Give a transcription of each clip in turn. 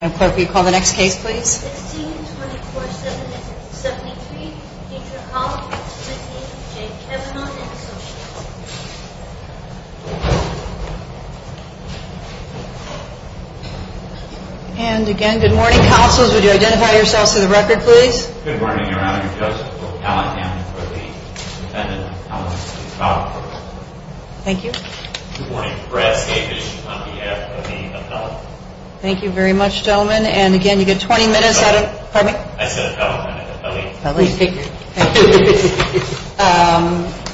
16, 24, 7, and 73, Deidre Holland, Timothy J. Cavanagh & Associates And again, good morning, counsels. Would you identify yourselves for the record, please? Good morning, Your Honor. I'm Joseph O'Callaghan, for the defendant, Alice O'Callaghan. Thank you. Good morning. Brad Skabish, on behalf of the appellate. Thank you very much, gentlemen. And again, you get 20 minutes. Pardon me? I said appellate. Appellate. Thank you.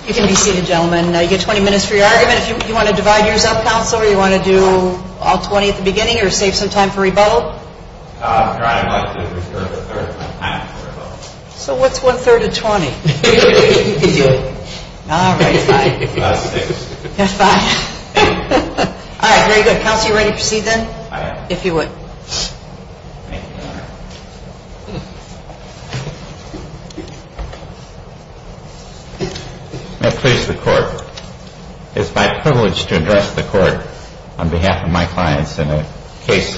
You can be seated, gentlemen. You get 20 minutes for your argument. Do you want to divide yours up, counsel, or do you want to do all 20 at the beginning or save some time for rebuttal? Your Honor, I'd like to reserve a third of my time for rebuttal. So what's one-third of 20? You can do it. All right. Five. Six. Five. All right. Very good. Counsel, you ready to proceed then? I am. If you would. Thank you, Your Honor. May it please the Court, it's my privilege to address the Court on behalf of my clients in a case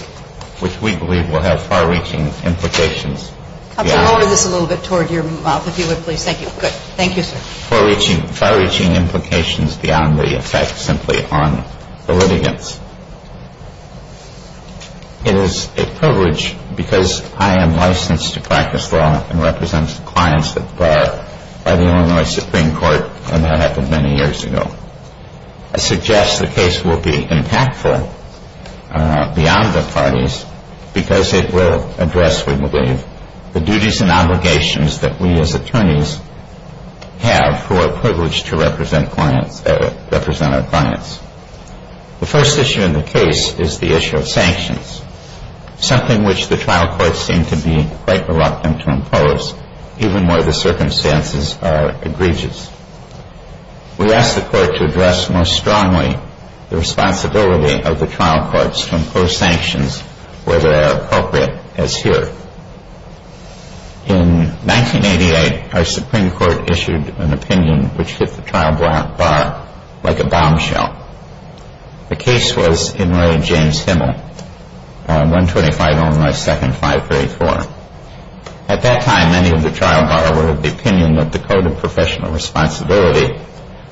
which we believe will have far-reaching implications. Counsel, lower this a little bit toward your mouth, if you would, please. Thank you. Good. Thank you, sir. Far-reaching implications beyond the effect simply on the litigants. It is a privilege because I am licensed to practice law and represent clients that are by the Illinois Supreme Court, and that happened many years ago. I suggest the case will be impactful beyond the parties because it will address, we believe, the duties and obligations that we as attorneys have who are privileged to represent our clients. The first issue in the case is the issue of sanctions, something which the trial courts seem to be quite reluctant to impose, even where the circumstances are egregious. We ask the Court to address most strongly the responsibility of the trial courts to impose sanctions where they are appropriate, as here. In 1988, our Supreme Court issued an opinion which hit the trial bar like a bombshell. The case was in Ray and James Himmel, 125-09-2nd-534. At that time, many of the trial bar were of the opinion that the Code of Professional Responsibility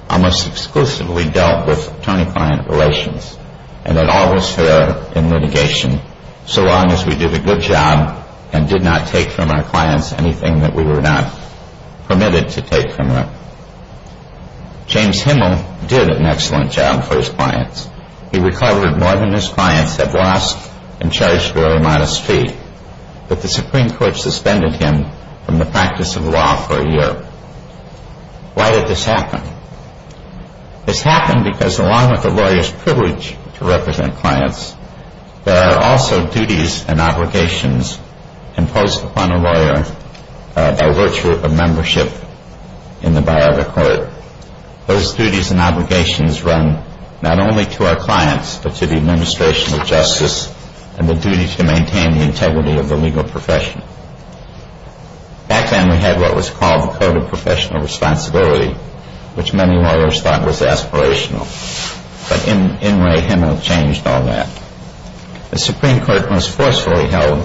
almost exclusively dealt with attorney-client relations, and that all was fair in litigation, so long as we did a good job and did not take from our clients anything that we were not permitted to take from them. James Himmel did an excellent job for his clients. He recovered more than his clients had lost in charge for a modest fee, but the Supreme Court suspended him from the practice of law for a year. Why did this happen? This happened because along with a lawyer's privilege to represent clients, there are also duties and obligations imposed upon a lawyer by virtue of membership in the bar of a court. Those duties and obligations run not only to our clients, but to the administration of justice and the duty to maintain the integrity of the legal profession. Back then we had what was called the Code of Professional Responsibility, which many lawyers thought was aspirational, but in Ray Himmel changed all that. The Supreme Court most forcefully held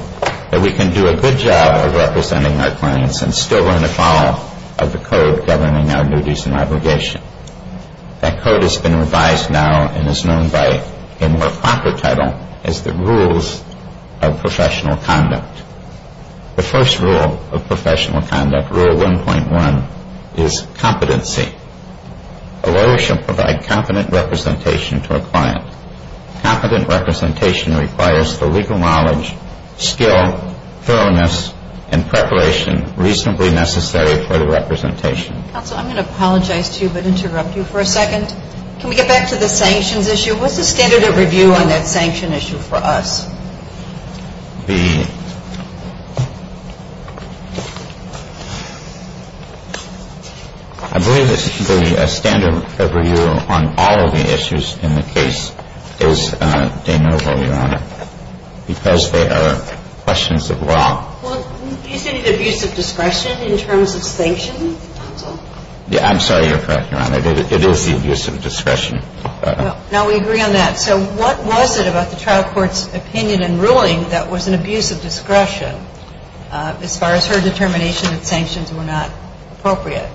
that we can do a good job of representing our clients and still learn to follow the code governing our duties and obligations. That code has been revised now and is known by a more proper title as the Rules of Professional Conduct. The first rule of professional conduct, Rule 1.1, is competency. A lawyer should provide competent representation to a client. Competent representation requires the legal knowledge, skill, thoroughness, and preparation reasonably necessary for the representation. Counsel, I'm going to apologize to you but interrupt you for a second. Can we get back to the sanctions issue? What's the standard of review on that sanction issue for us? I believe the standard of review on all of the issues in the case is de novo, Your Honor, because they are questions of law. Well, do you say the abuse of discretion in terms of sanction, counsel? Yeah, I'm sorry. You're correct, Your Honor. It is the abuse of discretion. Well, now we agree on that. So what was it about the trial court's opinion on the sanctions? It was the opinion in ruling that was an abuse of discretion as far as her determination that sanctions were not appropriate.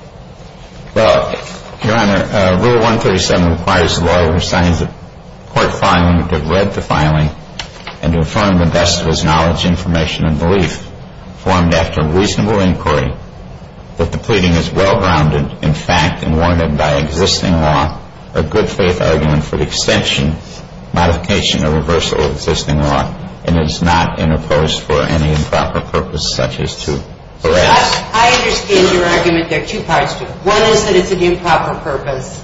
Well, Your Honor, Rule 1.37 requires the lawyer to sign the court filing, to have read the filing, and to affirm the best of his knowledge, information, and belief formed after reasonable inquiry that the pleading is well-grounded in fact and warranted by existing law, a good-faith argument for the extension, modification, or reversal of existing law, and is not interposed for any improper purpose such as to harass. I understand your argument. There are two parts to it. One is that it's an improper purpose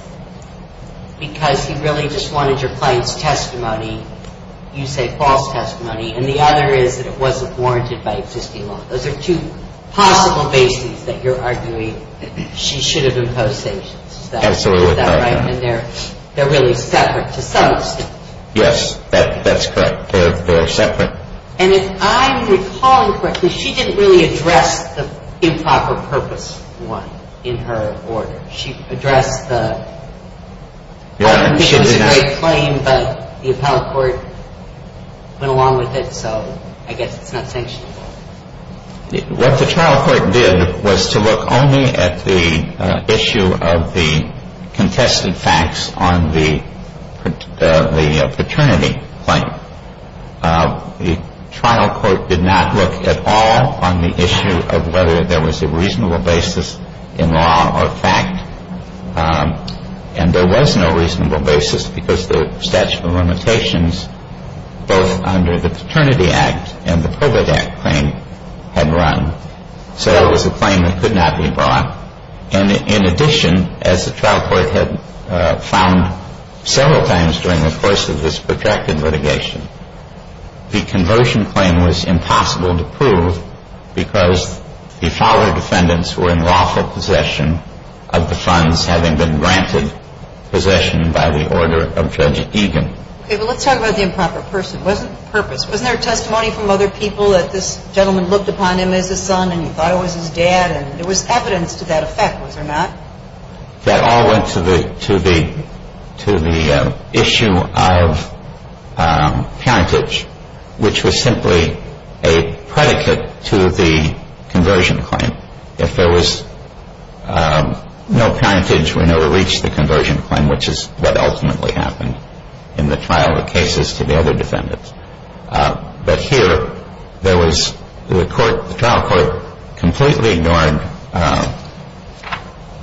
because he really just wanted your client's testimony, you say false testimony, and the other is that it wasn't warranted by existing law. Those are two possible bases that you're arguing that she should have imposed sanctions. Absolutely. Is that right? And they're really separate to some extent. Yes. That's correct. They're separate. And if I'm recalling correctly, she didn't really address the improper purpose one in her order. She addressed the part in which it was a great claim, but the appellate court went along with it, so I guess it's not sanctionable. What the trial court did was to look only at the issue of the contested facts on the paternity claim. The trial court did not look at all on the issue of whether there was a reasonable basis in law or fact, and there was no reasonable basis because the statute of limitations, both under the Paternity Act and the Public Act claim, had run. So that was a claim that could not be brought. And in addition, as the trial court had found several times during the course of this protracted litigation, the conversion claim was impossible to prove because the father defendants were in lawful possession of the funds having been granted possession by the order of Judge Egan. Okay, but let's talk about the improper purpose. Wasn't there testimony from other people that this gentleman looked upon him as his son and he thought it was his dad, and there was evidence to that effect, was there not? That all went to the issue of parentage, which was simply a predicate to the conversion claim. If there was no parentage, we never reached the conversion claim, which is what ultimately happened in the trial of cases to the other defendants. But here there was the trial court completely ignored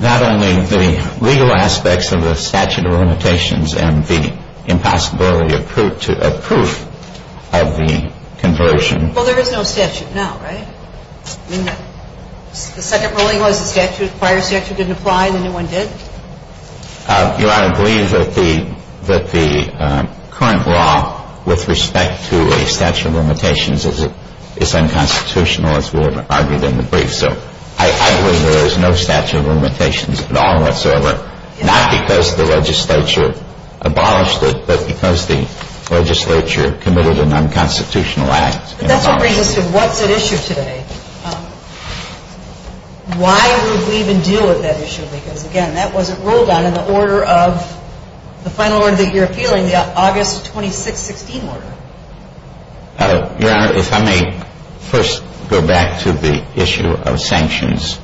not only the legal aspects of the statute of limitations and the impossibility of proof of the conversion. Well, there is no statute now, right? I mean, the second ruling was the prior statute didn't apply and the new one did? Your Honor, I believe that the current law with respect to a statute of limitations is unconstitutional, as we have argued in the brief. So I believe there is no statute of limitations at all whatsoever, not because the legislature abolished it, but because the legislature committed an unconstitutional act. But that's what brings us to what's at issue today. Why would we even deal with that issue? Because, again, that wasn't ruled on in the order of the final order that you're appealing, the August 26, 16 order. Your Honor, if I may first go back to the issue of sanctions.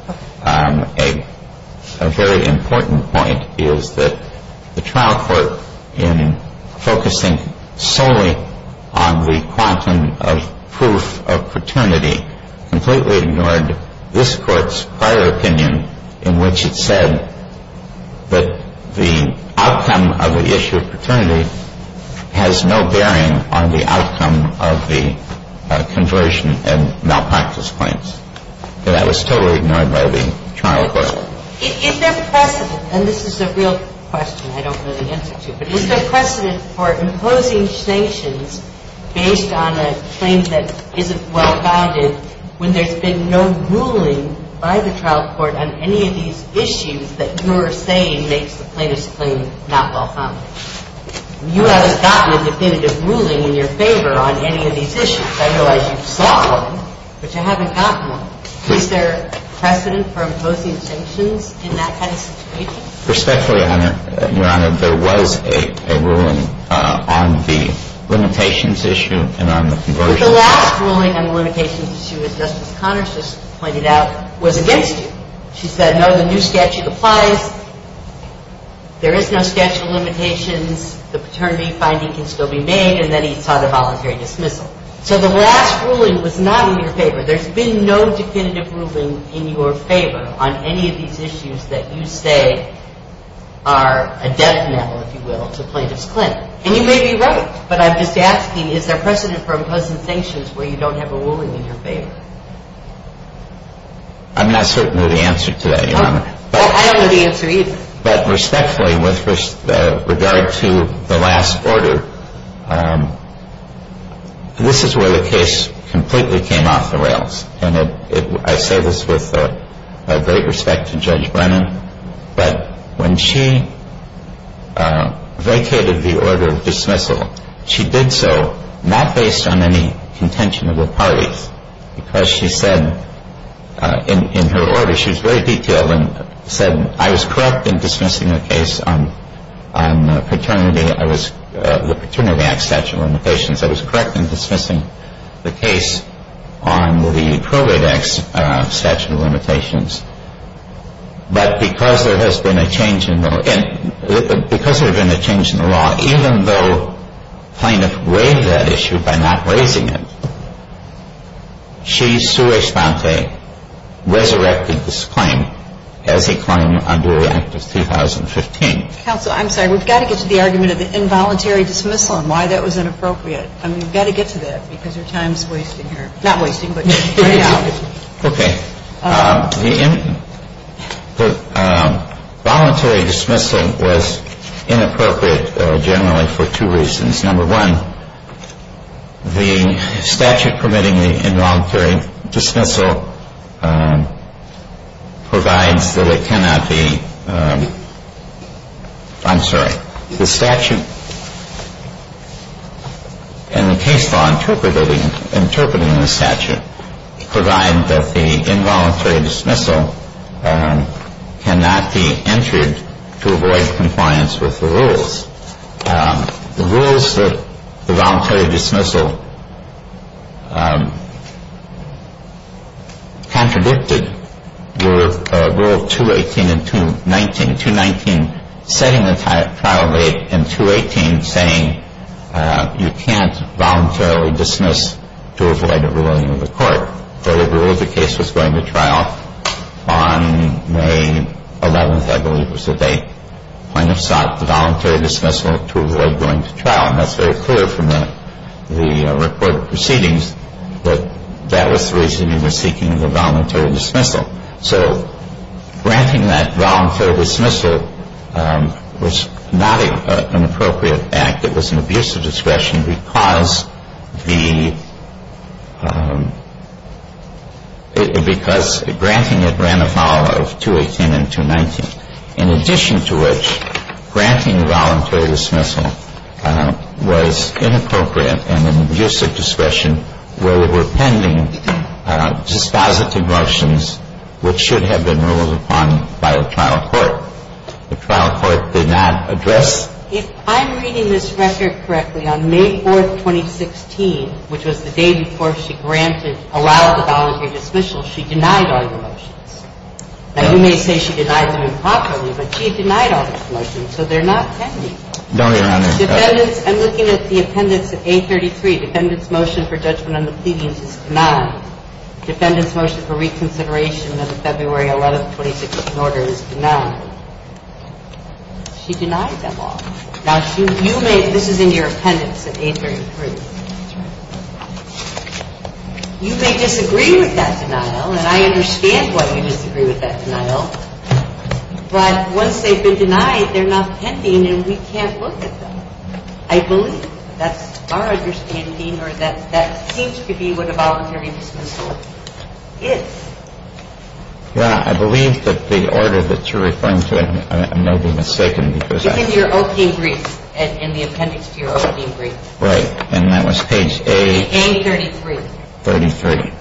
A very important point is that the trial court, in focusing solely on the quantum of proof of paternity, completely ignored this Court's prior opinion in which it said that the outcome of the issue of paternity has no bearing on the outcome of the conversion and malpractice claims. And that was totally ignored by the trial court. Is there precedent, and this is a real question I don't know the answer to, but is there precedent for imposing sanctions based on a claim that isn't well-founded when there's been no ruling by the trial court on any of these issues that you're saying makes the plaintiff's claim not well-founded? You haven't gotten a definitive ruling in your favor on any of these issues. I realize you saw one, but you haven't gotten one. Is there precedent for imposing sanctions in that kind of situation? Respectfully, Your Honor, there was a ruling on the limitations issue and on the conversion. But the last ruling on the limitations issue, as Justice Connors just pointed out, was against you. She said, no, the new statute applies. There is no statute of limitations. The paternity finding can still be made. And then he sought a voluntary dismissal. So the last ruling was not in your favor. There's been no definitive ruling in your favor on any of these issues that you say are a death knell, if you will, to plaintiff's claim. And you may be right, but I'm just asking, is there precedent for imposing sanctions where you don't have a ruling in your favor? I'm not certain of the answer to that, Your Honor. I don't know the answer either. But respectfully, with regard to the last order, this is where the case completely came off the rails. And I say this with great respect to Judge Brennan, but when she vacated the order of dismissal, she did so not based on any contention of the parties, because she said in her order, she was very detailed and said, I was correct in dismissing the case on paternity. I was the Paternity Act statute of limitations. I was correct in dismissing the case on the Probate Act statute of limitations. But because there has been a change in the law, even though plaintiff waived that issue by not raising it, she, sua sponte, resurrected this claim as a claim under Act of 2015. Counsel, I'm sorry. We've got to get to the argument of the involuntary dismissal and why that was inappropriate. I mean, we've got to get to that because your time is wasting here. Not wasting, but right now. Okay. The involuntary dismissal was inappropriate generally for two reasons. Number one, the statute permitting the involuntary dismissal provides that it cannot be ‑‑ I'm sorry. The statute and the case law interpreting the statute provide that the involuntary dismissal cannot be entered to avoid compliance with the rules. The rules that the voluntary dismissal contradicted were Rule 218 and 219, 219 setting the trial rate and 218 saying you can't voluntarily dismiss to avoid a ruling of the court. The case was going to trial on May 11th, I believe was the date. Plaintiff sought the voluntary dismissal to avoid going to trial. And that's very clear from the reported proceedings that that was the reason he was seeking the voluntary dismissal. So granting that voluntary dismissal was not an appropriate act. It was an abuse of discretion because the ‑‑ because granting it ran afoul of 218 and 219, in addition to which granting the voluntary dismissal was inappropriate and an abuse of discretion where there were pending dispositive motions which should have been ruled upon by a trial court. The trial court did not address ‑‑ If I'm reading this record correctly, on May 4th, 2016, which was the day before she granted, allowed the voluntary dismissal, she denied all the motions. Now, you may say she denied them improperly, but she denied all the motions, so they're not pending. I'm looking at the appendix of A33. Defendant's motion for judgment on the pleadings is denied. Defendant's motion for reconsideration of the February 11th, 2016 order is denied. She denied them all. Now, you may ‑‑ this is in your appendix of A33. That's right. You may disagree with that denial, and I understand why you disagree with that denial, but once they've been denied, they're not pending, and we can't look at them. I believe that's our understanding, or that seems to be what a voluntary dismissal is. Yeah, I believe that the order that you're referring to, I may be mistaken. It's in your opening brief, in the appendix to your opening brief. Right, and that was page A33. 33.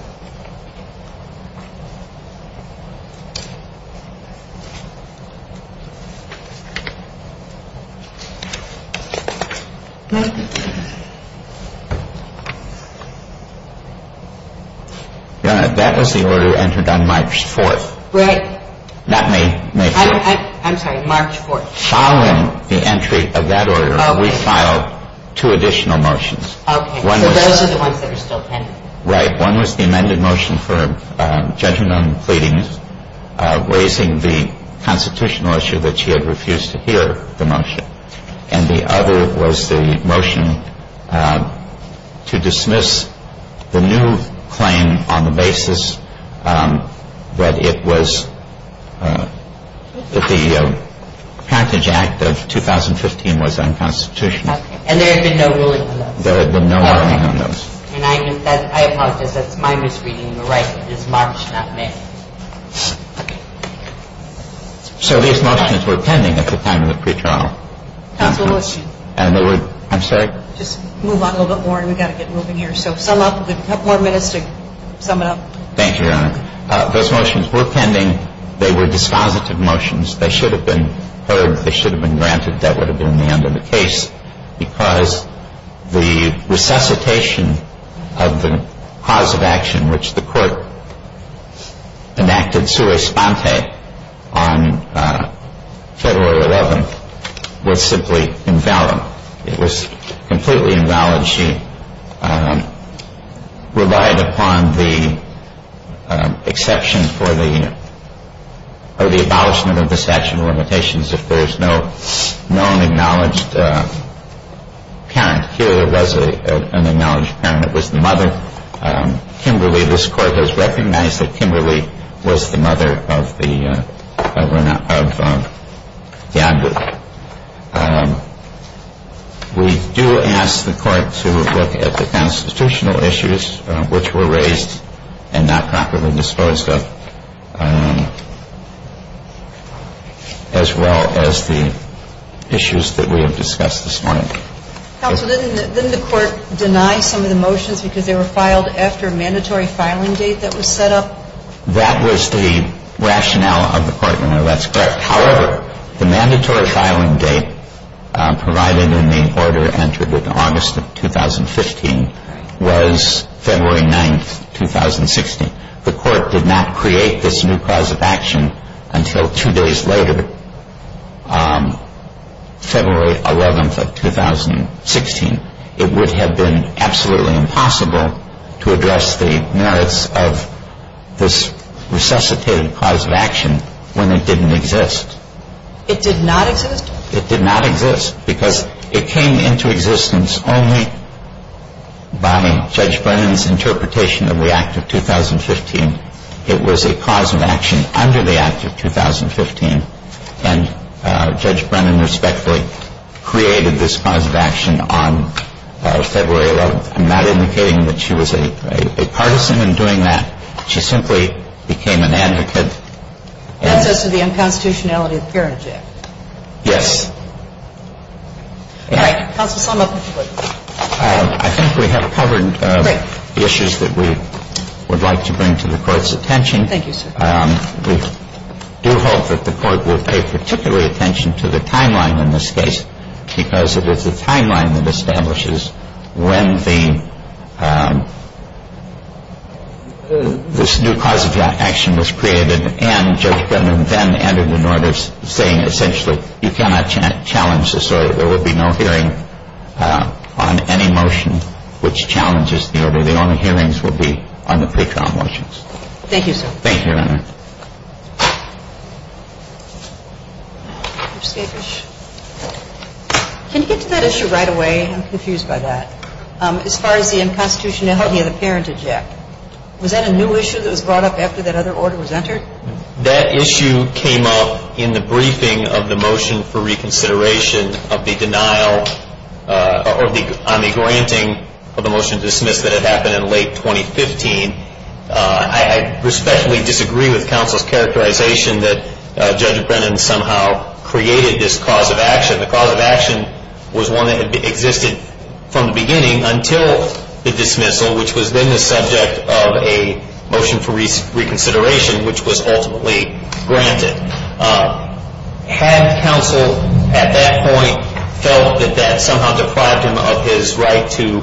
That was the order entered on March 4th. Right. That may be true. I'm sorry. March 4th. Following the entry of that order, we filed two additional motions. Okay. So those are the ones that are still pending. Right. One was the amended motion for judgment on the pleadings. Okay. One was raising the constitutional issue that you had refused to hear the motion, and the other was the motion to dismiss the new claim on the basis that it was ‑‑ that the Parentage Act of 2015 was unconstitutional. Okay. And there had been no ruling on those? There had been no ruling on those. And I apologize. That's my misreading. You're right. It is March, not May. Okay. So these motions were pending at the time of the pretrial. Counsel, what's your ‑‑ I'm sorry? Just move on a little bit more, and we've got to get moving here. So sum up. We've got a couple more minutes to sum it up. Thank you, Your Honor. Those motions were pending. They were dispositive motions. They should have been heard. They should have been granted. That would have been the end of the case because the resuscitation of the cause of action which the court enacted sua sponte on February 11th was simply invalid. It was completely invalid. She relied upon the exception for the abolishment of the statute of limitations if there's no known acknowledged parent here. There was an acknowledged parent. It was the mother, Kimberly. This court has recognized that Kimberly was the mother of the advocate. We do ask the court to look at the constitutional issues which were raised and not properly disposed of as well as the issues that we have discussed this morning. Counsel, didn't the court deny some of the motions because they were filed after a mandatory filing date that was set up? That was the rationale of the court, Your Honor. That's correct. However, the mandatory filing date provided in the order entered in August of 2015 was February 9th, 2016. The court did not create this new cause of action until two days later, February 11th of 2016. It would have been absolutely impossible to address the merits of this resuscitated cause of action when it didn't exist. It did not exist? It did not exist because it came into existence only by Judge Brennan's interpretation of the Act of 2015. It was a cause of action under the Act of 2015, and Judge Brennan respectfully created this cause of action on February 11th. I'm not indicating that she was a partisan in doing that. She simply became an advocate. It was a cause of action under the Act of 2015. That's as to the unconstitutionality of the parent act? Yes. All right. Counsel, sum up, please. I think we have covered the issues that we would like to bring to the Court's attention. Thank you, sir. We do hope that the Court will pay particular attention to the timeline in this case because it is the timeline that establishes when this new cause of action was created and Judge Brennan then entered into order saying essentially you cannot challenge this order. There will be no hearing on any motion which challenges the order. The only hearings will be on the pre-trial motions. Thank you, sir. Thank you, Your Honor. Can you get to that issue right away? I'm confused by that. As far as the unconstitutionality of the parentage act, was that a new issue that was brought up after that other order was entered? That issue came up in the briefing of the motion for reconsideration of the denial on the granting of the motion to dismiss that had happened in late 2015. I respectfully disagree with counsel's characterization that Judge Brennan somehow created this cause of action. The cause of action was one that existed from the beginning until the dismissal, which was then the subject of a motion for reconsideration, which was ultimately granted. Had counsel at that point felt that that somehow deprived him of his right to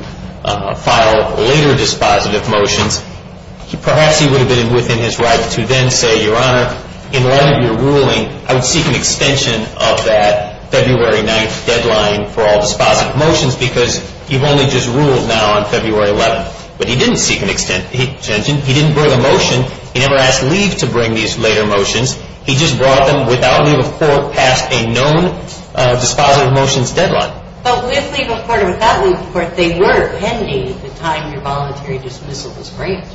file later dispositive motions, perhaps he would have been within his right to then say, Your Honor, in light of your ruling, I would seek an extension of that February 9th deadline for all dispositive motions because you've only just ruled now on February 11th. But he didn't seek an extension. He didn't bring a motion. He never asked leave to bring these later motions. He just brought them without leave of court past a known dispositive motions deadline. But with leave of court or without leave of court, they were pending the time your voluntary dismissal was granted.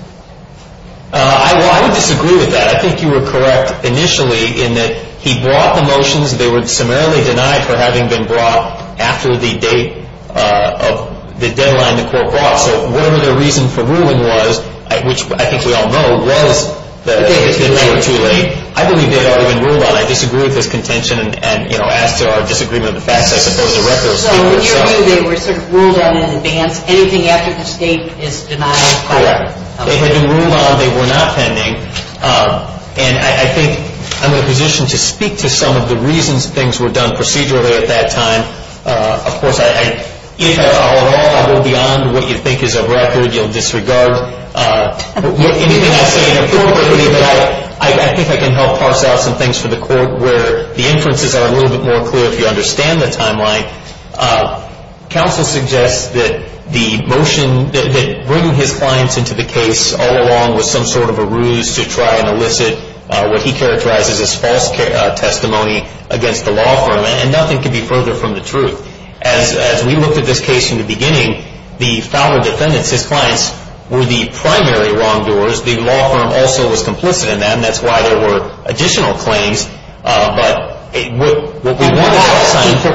Well, I would disagree with that. I think you were correct initially in that he brought the motions. They were summarily denied for having been brought after the date of the deadline the court brought. So whatever the reason for ruling was, which I think we all know, was that it was too late. I believe they had already been ruled on. I disagree with this contention. And, you know, as to our disagreement of the facts, I suppose the record will speak for itself. So in your view, they were sort of ruled on in advance. Anything after the state is denied. Correct. They had been ruled on. They were not pending. And I think I'm in a position to speak to some of the reasons things were done procedurally at that time. Of course, all in all, I go beyond what you think is a record. You'll disregard anything I say inappropriately. But I think I can help parse out some things for the court where the inferences are a little bit more clear, if you understand the timeline. Counsel suggests that the motion that bringing his clients into the case all along was some sort of a ruse to try and elicit what he characterizes as false testimony against the law firm. And nothing can be further from the truth. As we looked at this case in the beginning, the fowler defendants, his clients, were the primary wrongdoers. The law firm also was complicit in that, and that's why there were additional claims. But what we want to say is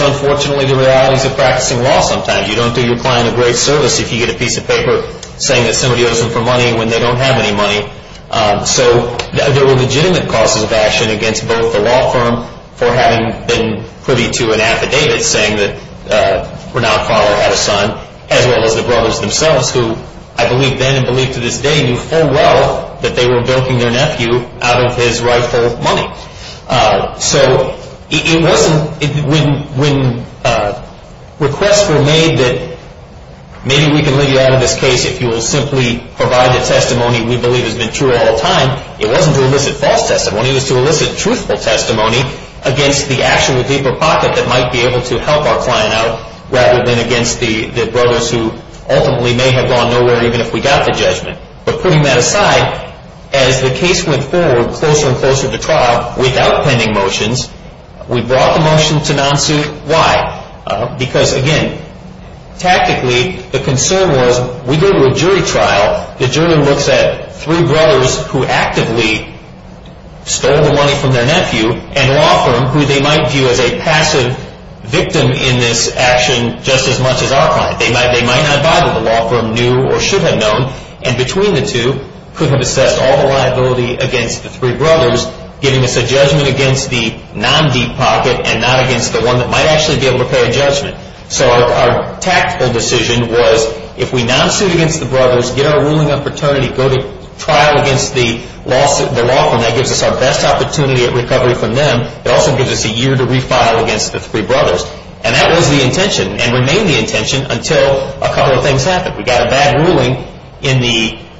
unfortunately the realities of practicing law sometimes. You don't do your client a great service if you get a piece of paper saying that somebody owes them for money when they don't have any money. So there were legitimate causes of action against both the law firm for having been privy to an affidavit saying that Renaud Fowler had a son, as well as the brothers themselves, who I believe then and believe to this day knew full well that they were bilking their nephew out of his rightful money. So it wasn't when requests were made that maybe we can leave you out of this case if you will simply provide the testimony we believe has been true all the time. It wasn't to elicit false testimony. It was to elicit truthful testimony against the action with deeper pocket that might be able to help our client out rather than against the brothers who ultimately may have gone nowhere even if we got the judgment. But putting that aside, as the case went forward closer and closer to trial without pending motions, Why? Because again, tactically, the concern was we go to a jury trial. The jury looks at three brothers who actively stole the money from their nephew and a law firm who they might view as a passive victim in this action just as much as our client. They might not bother the law firm knew or should have known and between the two could have assessed all the liability against the three brothers giving us a judgment against the non-deep pocket and not against the one that might actually be able to pay a judgment. So our tactical decision was if we non-suit against the brothers, get our ruling on paternity, go to trial against the law firm, that gives us our best opportunity at recovery from them. It also gives us a year to refile against the three brothers. And that was the intention and remained the intention until a couple of things happened. We got a bad ruling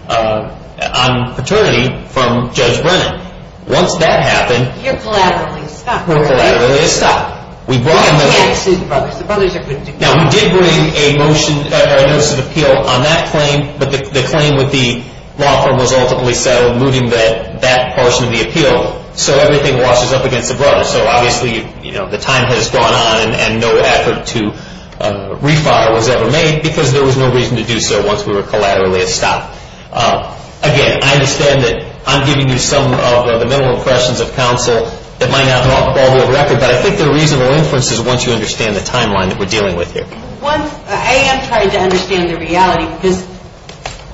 on paternity from Judge Brennan. Once that happened... You're collaterally stopped, right? We're collaterally stopped. We brought a motion... You can't sue the brothers. The brothers are convicted. Now, we did bring a motion, a notice of appeal on that claim, but the claim with the law firm was ultimately settled, moving that that portion of the appeal so everything washes up against the brothers. So obviously, you know, the time has gone on and no effort to refile was ever made because there was no reason to do so once we were collaterally stopped. Again, I understand that I'm giving you some of the mental impressions of counsel that might not be off the ballboard record, but I think they're reasonable inferences once you understand the timeline that we're dealing with here. I am trying to understand the reality because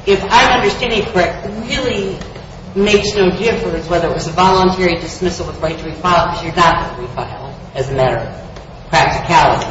if I'm understanding it correct, it really makes no difference whether it was a voluntary dismissal with right to refile because you're not going to refile as a matter of practicality,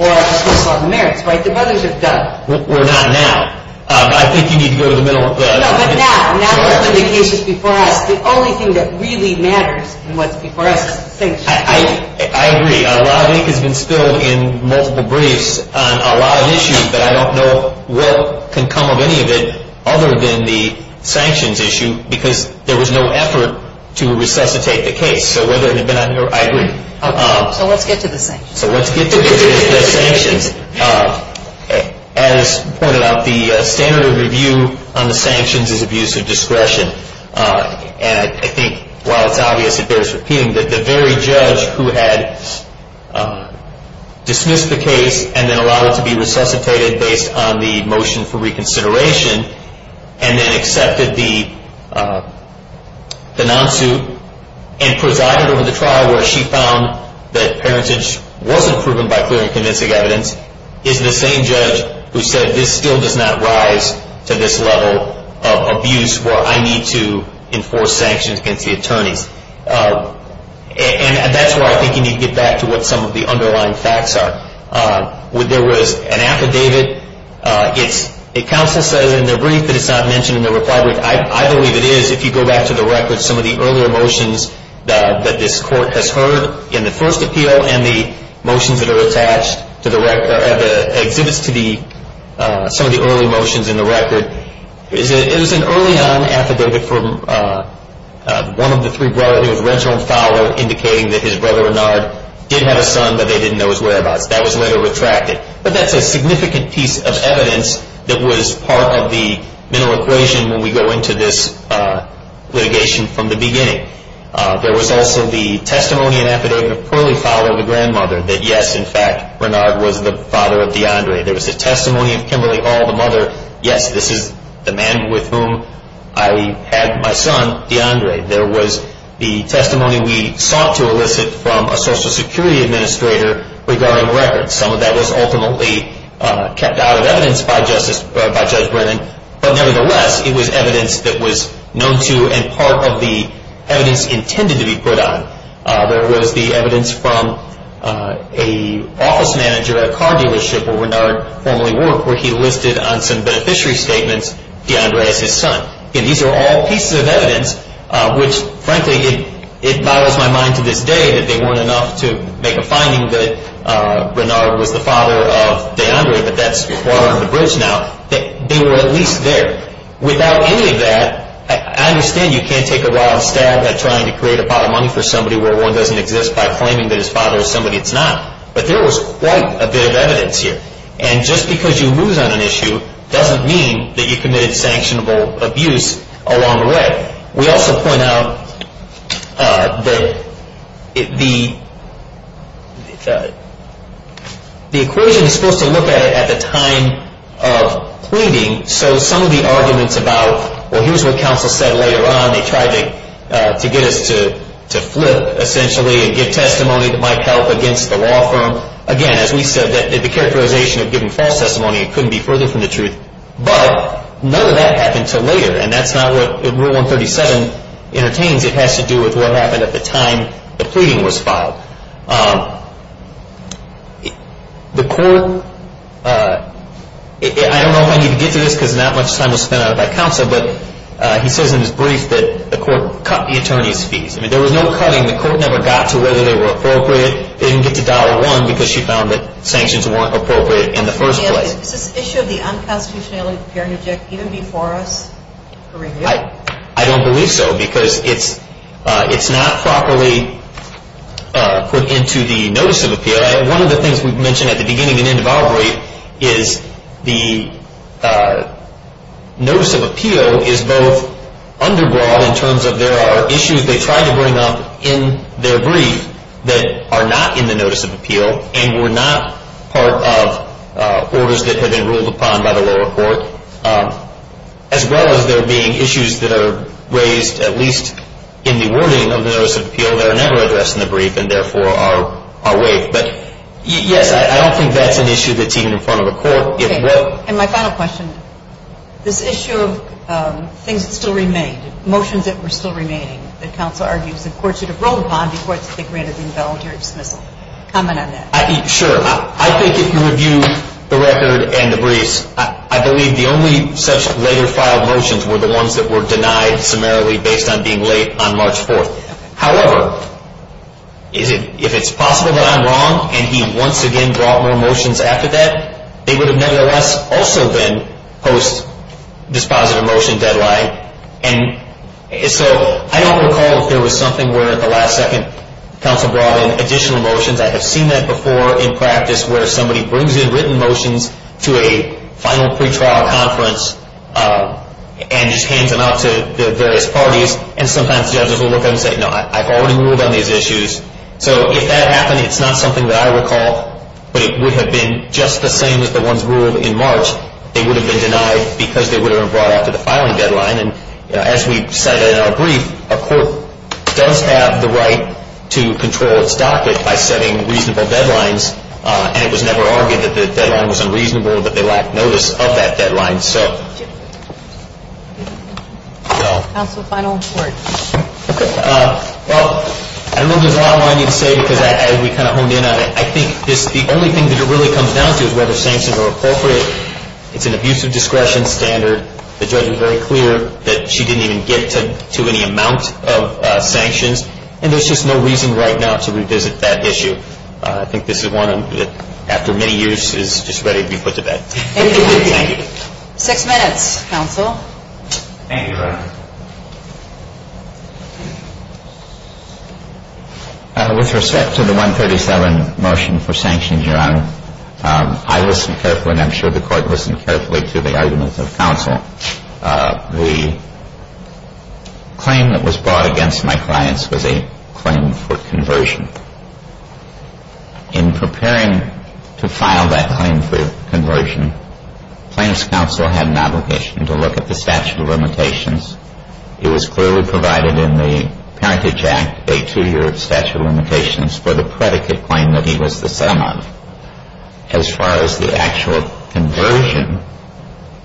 or a dismissal of merits, right? The brothers have done it. We're not now. I think you need to go to the middle of the... No, but now. Now that the case is before us, the only thing that really matters in what's before us is the sanctions. I agree. A lot of ink has been spilled in multiple briefs on a lot of issues that I don't know what can come of any of it other than the sanctions issue because there was no effort to resuscitate the case. So whether it had been on your... I agree. Okay. So let's get to the sanctions. As pointed out, the standard of review on the sanctions is abuse of discretion. And I think while it's obvious, it bears repeating, that the very judge who had dismissed the case and then allowed it to be resuscitated based on the motion for reconsideration and then accepted the non-suit and presided over the trial where she found that parentage wasn't proven by clear and convincing evidence is the same judge who said this still does not rise to this level of abuse where I need to enforce sanctions against the attorneys. And that's where I think you need to get back to what some of the underlying facts are. There was an affidavit. The counsel says in their brief that it's not mentioned in their reply brief. I believe it is if you go back to the record. Some of the earlier motions that this court has heard in the first appeal and the motions that are attached to the exhibits to some of the early motions in the record. It was an early on affidavit from one of the three brothers. It was Rensselaer and Fowler indicating that his brother, Renard, did have a son but they didn't know his whereabouts. That was later retracted. But that's a significant piece of evidence that was part of the mental equation when we go into this litigation from the beginning. There was also the testimony and affidavit of Crowley Fowler, the grandmother, that yes, in fact, Renard was the father of DeAndre. There was a testimony of Kimberly Hall, the mother. Yes, this is the man with whom I had my son, DeAndre. There was the testimony we sought to elicit from a Social Security administrator regarding records. Some of that was ultimately kept out of evidence by Judge Brennan. But nevertheless, it was evidence that was known to and part of the evidence intended to be put on. There was the evidence from an office manager at a car dealership where Renard formerly worked where he listed on some beneficiary statements DeAndre as his son. These are all pieces of evidence which, frankly, it boggles my mind to this day that they weren't enough to make a finding that Renard was the father of DeAndre, but that's water under the bridge now. They were at least there. Without any of that, I understand you can't take a wild stab at trying to create a pot of money for somebody where one doesn't exist by claiming that his father is somebody that's not. But there was quite a bit of evidence here. And just because you lose on an issue doesn't mean that you committed sanctionable abuse along the way. We also point out that the equation is supposed to look at it at the time of pleading. So some of the arguments about, well, here's what counsel said later on, they tried to get us to flip essentially and give testimony that might help against the law firm. Again, as we said, the characterization of giving false testimony couldn't be further from the truth. But none of that happened until later. And that's not what Rule 137 entertains. It has to do with what happened at the time the pleading was filed. The court, I don't know if I need to get to this because not much time was spent on it by counsel, but he says in his brief that the court cut the attorney's fees. I mean, there was no cutting. The court never got to whether they were appropriate. They didn't get to dollar one because she found that sanctions weren't appropriate in the first place. Is this issue of the unconstitutionality of the parent object even before us, Kareem? I don't believe so because it's not properly put into the notice of appeal. One of the things we've mentioned at the beginning and end of our brief is the notice of appeal is both underwhelming in terms of there are issues they try to bring up in their brief that are not in the notice of appeal and were not part of orders that had been ruled upon by the lower court, as well as there being issues that are raised at least in the wording of the notice of appeal that are never addressed in the brief and therefore are waived. But, yes, I don't think that's an issue that's even in front of a court. And my final question, this issue of things that still remained, motions that were still remaining, that counsel argues that courts should have ruled upon before they granted the involuntary dismissal. Comment on that. Sure. I think if you review the record and the briefs, I believe the only such later filed motions were the ones that were denied summarily based on being late on March 4th. However, if it's possible that I'm wrong and he once again brought more motions after that, they would have nevertheless also been post-dispositive motion deadline. And so I don't recall if there was something where at the last second counsel brought in additional motions. I have seen that before in practice where somebody brings in written motions to a final pretrial conference and just hands them out to the various parties. And sometimes judges will look at them and say, no, I've already ruled on these issues. So if that happened, it's not something that I recall, but it would have been just the same as the ones ruled in March. They would have been denied because they would have been brought after the filing deadline. And as we cited in our brief, a court does have the right to control its docket by setting reasonable deadlines. And it was never argued that the deadline was unreasonable, but they lacked notice of that deadline. Counsel, final report. Okay. Well, I don't know if there's a lot I wanted you to say because we kind of honed in on it. I think the only thing that it really comes down to is whether sanctions are appropriate. It's an abuse of discretion standard. The judge was very clear that she didn't even get to any amount of sanctions. And there's just no reason right now to revisit that issue. I think this is one that after many years is just ready to be put to bed. Thank you. Six minutes, counsel. Thank you. With respect to the 137 motion for sanctions, Your Honor, I listened carefully and I'm sure the court listened carefully to the arguments of counsel. The claim that was brought against my clients was a claim for conversion. In preparing to file that claim for conversion, plaintiff's counsel had an obligation to look at the statute of limitations. It was clearly provided in the Parentage Act, a two-year statute of limitations, for the predicate claim that he was the sum of. As far as the actual conversion,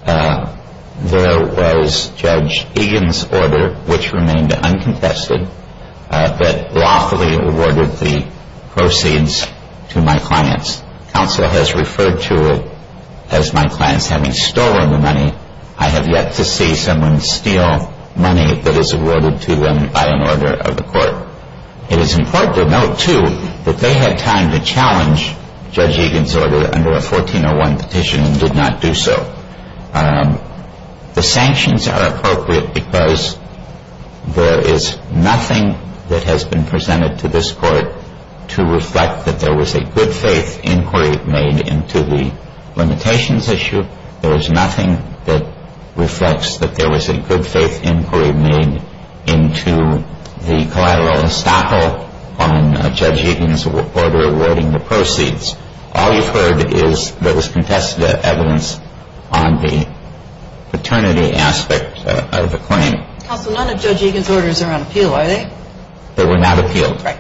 there was Judge Egan's order, which remained uncontested, that lawfully awarded the proceeds to my clients. Counsel has referred to it as my clients having stolen the money. I have yet to see someone steal money that is awarded to them by an order of the court. It is important to note, too, that they had time to challenge Judge Egan's order under a 1401 petition and did not do so. The sanctions are appropriate because there is nothing that has been presented to this court to reflect that there was a good-faith inquiry made into the limitations issue. There is nothing that reflects that there was a good-faith inquiry made into the collateral estoppel on Judge Egan's order awarding the proceeds. All you've heard is there was contested evidence on the paternity aspect of the claim. Counsel, none of Judge Egan's orders are on appeal, are they? They were not appealed. Right.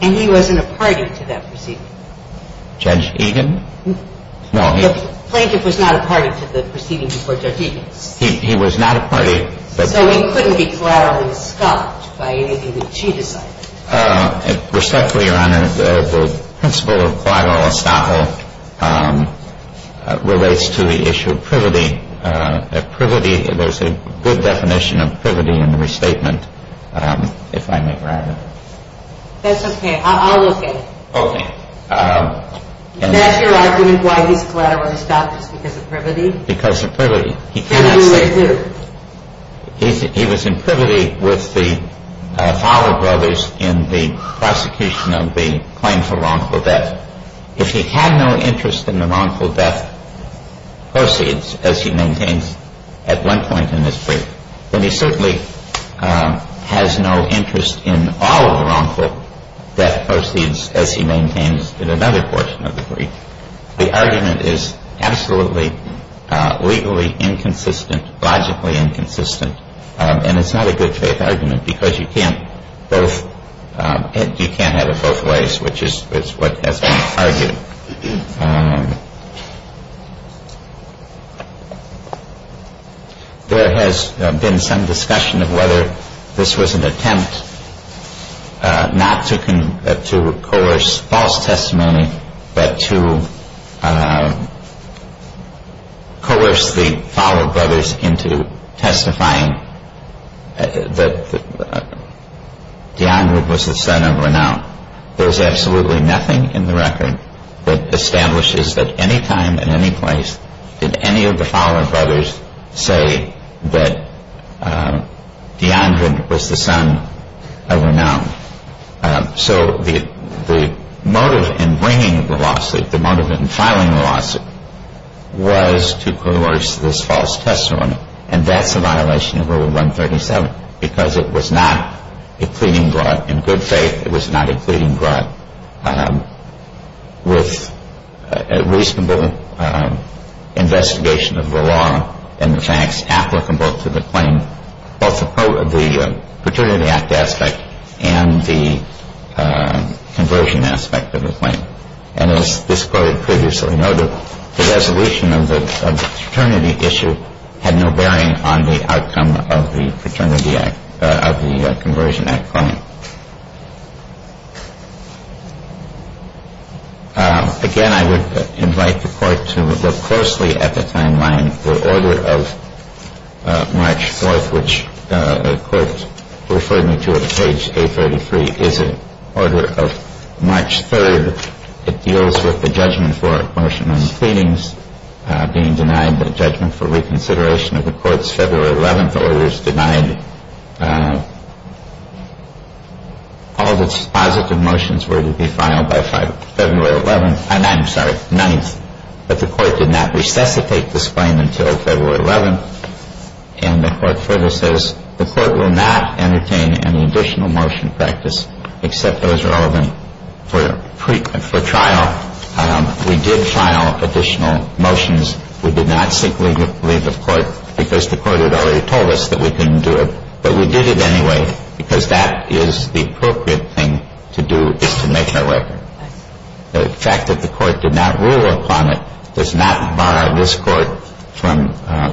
And he wasn't a party to that proceeding. Judge Egan? No. The plaintiff was not a party to the proceeding before Judge Egan's. He was not a party. So he couldn't be collaterally stopped by anything that she decided. Respectfully, Your Honor, the principle of collateral estoppel relates to the issue of privity. There's a good definition of privity in the restatement, if I may, Your Honor. That's okay. I'll look at it. Okay. That's your argument why he's collaterally stopped is because of privity? Because of privity. He cannot say. And who is who? He was in privity with the Fowler brothers in the prosecution of the claim for wrongful death. If he had no interest in the wrongful death proceeds, as he maintains at one point in his brief, then he certainly has no interest in all of the wrongful death proceeds, as he maintains in another portion of the brief. The argument is absolutely legally inconsistent, logically inconsistent, and it's not a good-faith argument because you can't have it both ways, which is what has been argued. There has been some discussion of whether this was an attempt not to coerce false testimony but to coerce the Fowler brothers into testifying that DeAndre was the son of Renown. There is absolutely nothing in the record that establishes that any time and any place did any of the Fowler brothers say that DeAndre was the son of Renown. So the motive in bringing the lawsuit, the motive in filing the lawsuit, was to coerce this false testimony, and that's a violation of Rule 137 because it was not a pleading brought in good faith. It was not a pleading brought with a reasonable investigation of the law and the facts applicable to the claim, both the part of the Fraternity Act aspect and the conversion aspect of the claim. And as this Court had previously noted, the resolution of the Fraternity issue had no bearing on the outcome of the Fraternity Act of the Conversion Act claim. Again, I would invite the Court to look closely at the timeline. The order of March 4th, which the Court referred me to at page 833, is an order of March 3rd. It deals with the judgment for motion and pleadings being denied, the judgment for reconsideration of the Court's February 11th orders denied. All of its positive motions were to be filed by February 11th, I'm sorry, 9th, but the Court did not resuscitate this claim until February 11th, and the Court further says the Court will not entertain any additional motion practice except those relevant for trial. We did trial additional motions. We did not seek legal leave of court because the Court had already told us that we couldn't do it, but we did it anyway because that is the appropriate thing to do is to make that record. The fact that the Court did not rule upon it does not bar this Court from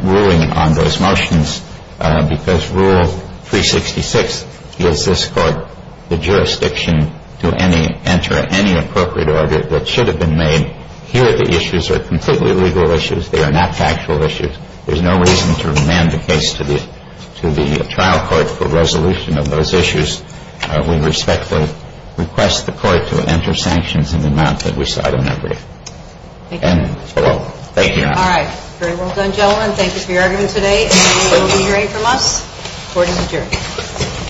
ruling on those motions because Rule 366 gives this Court the jurisdiction to enter any appropriate order that should have been made. Here, the issues are completely legal issues. They are not factual issues. There's no reason to remand the case to the trial court for resolution of those issues. We respectfully request the Court to enter sanctions in the amount that we sought in that brief. Thank you. All right. Very well done, gentlemen. Thank you for your argument today. Court is adjourned.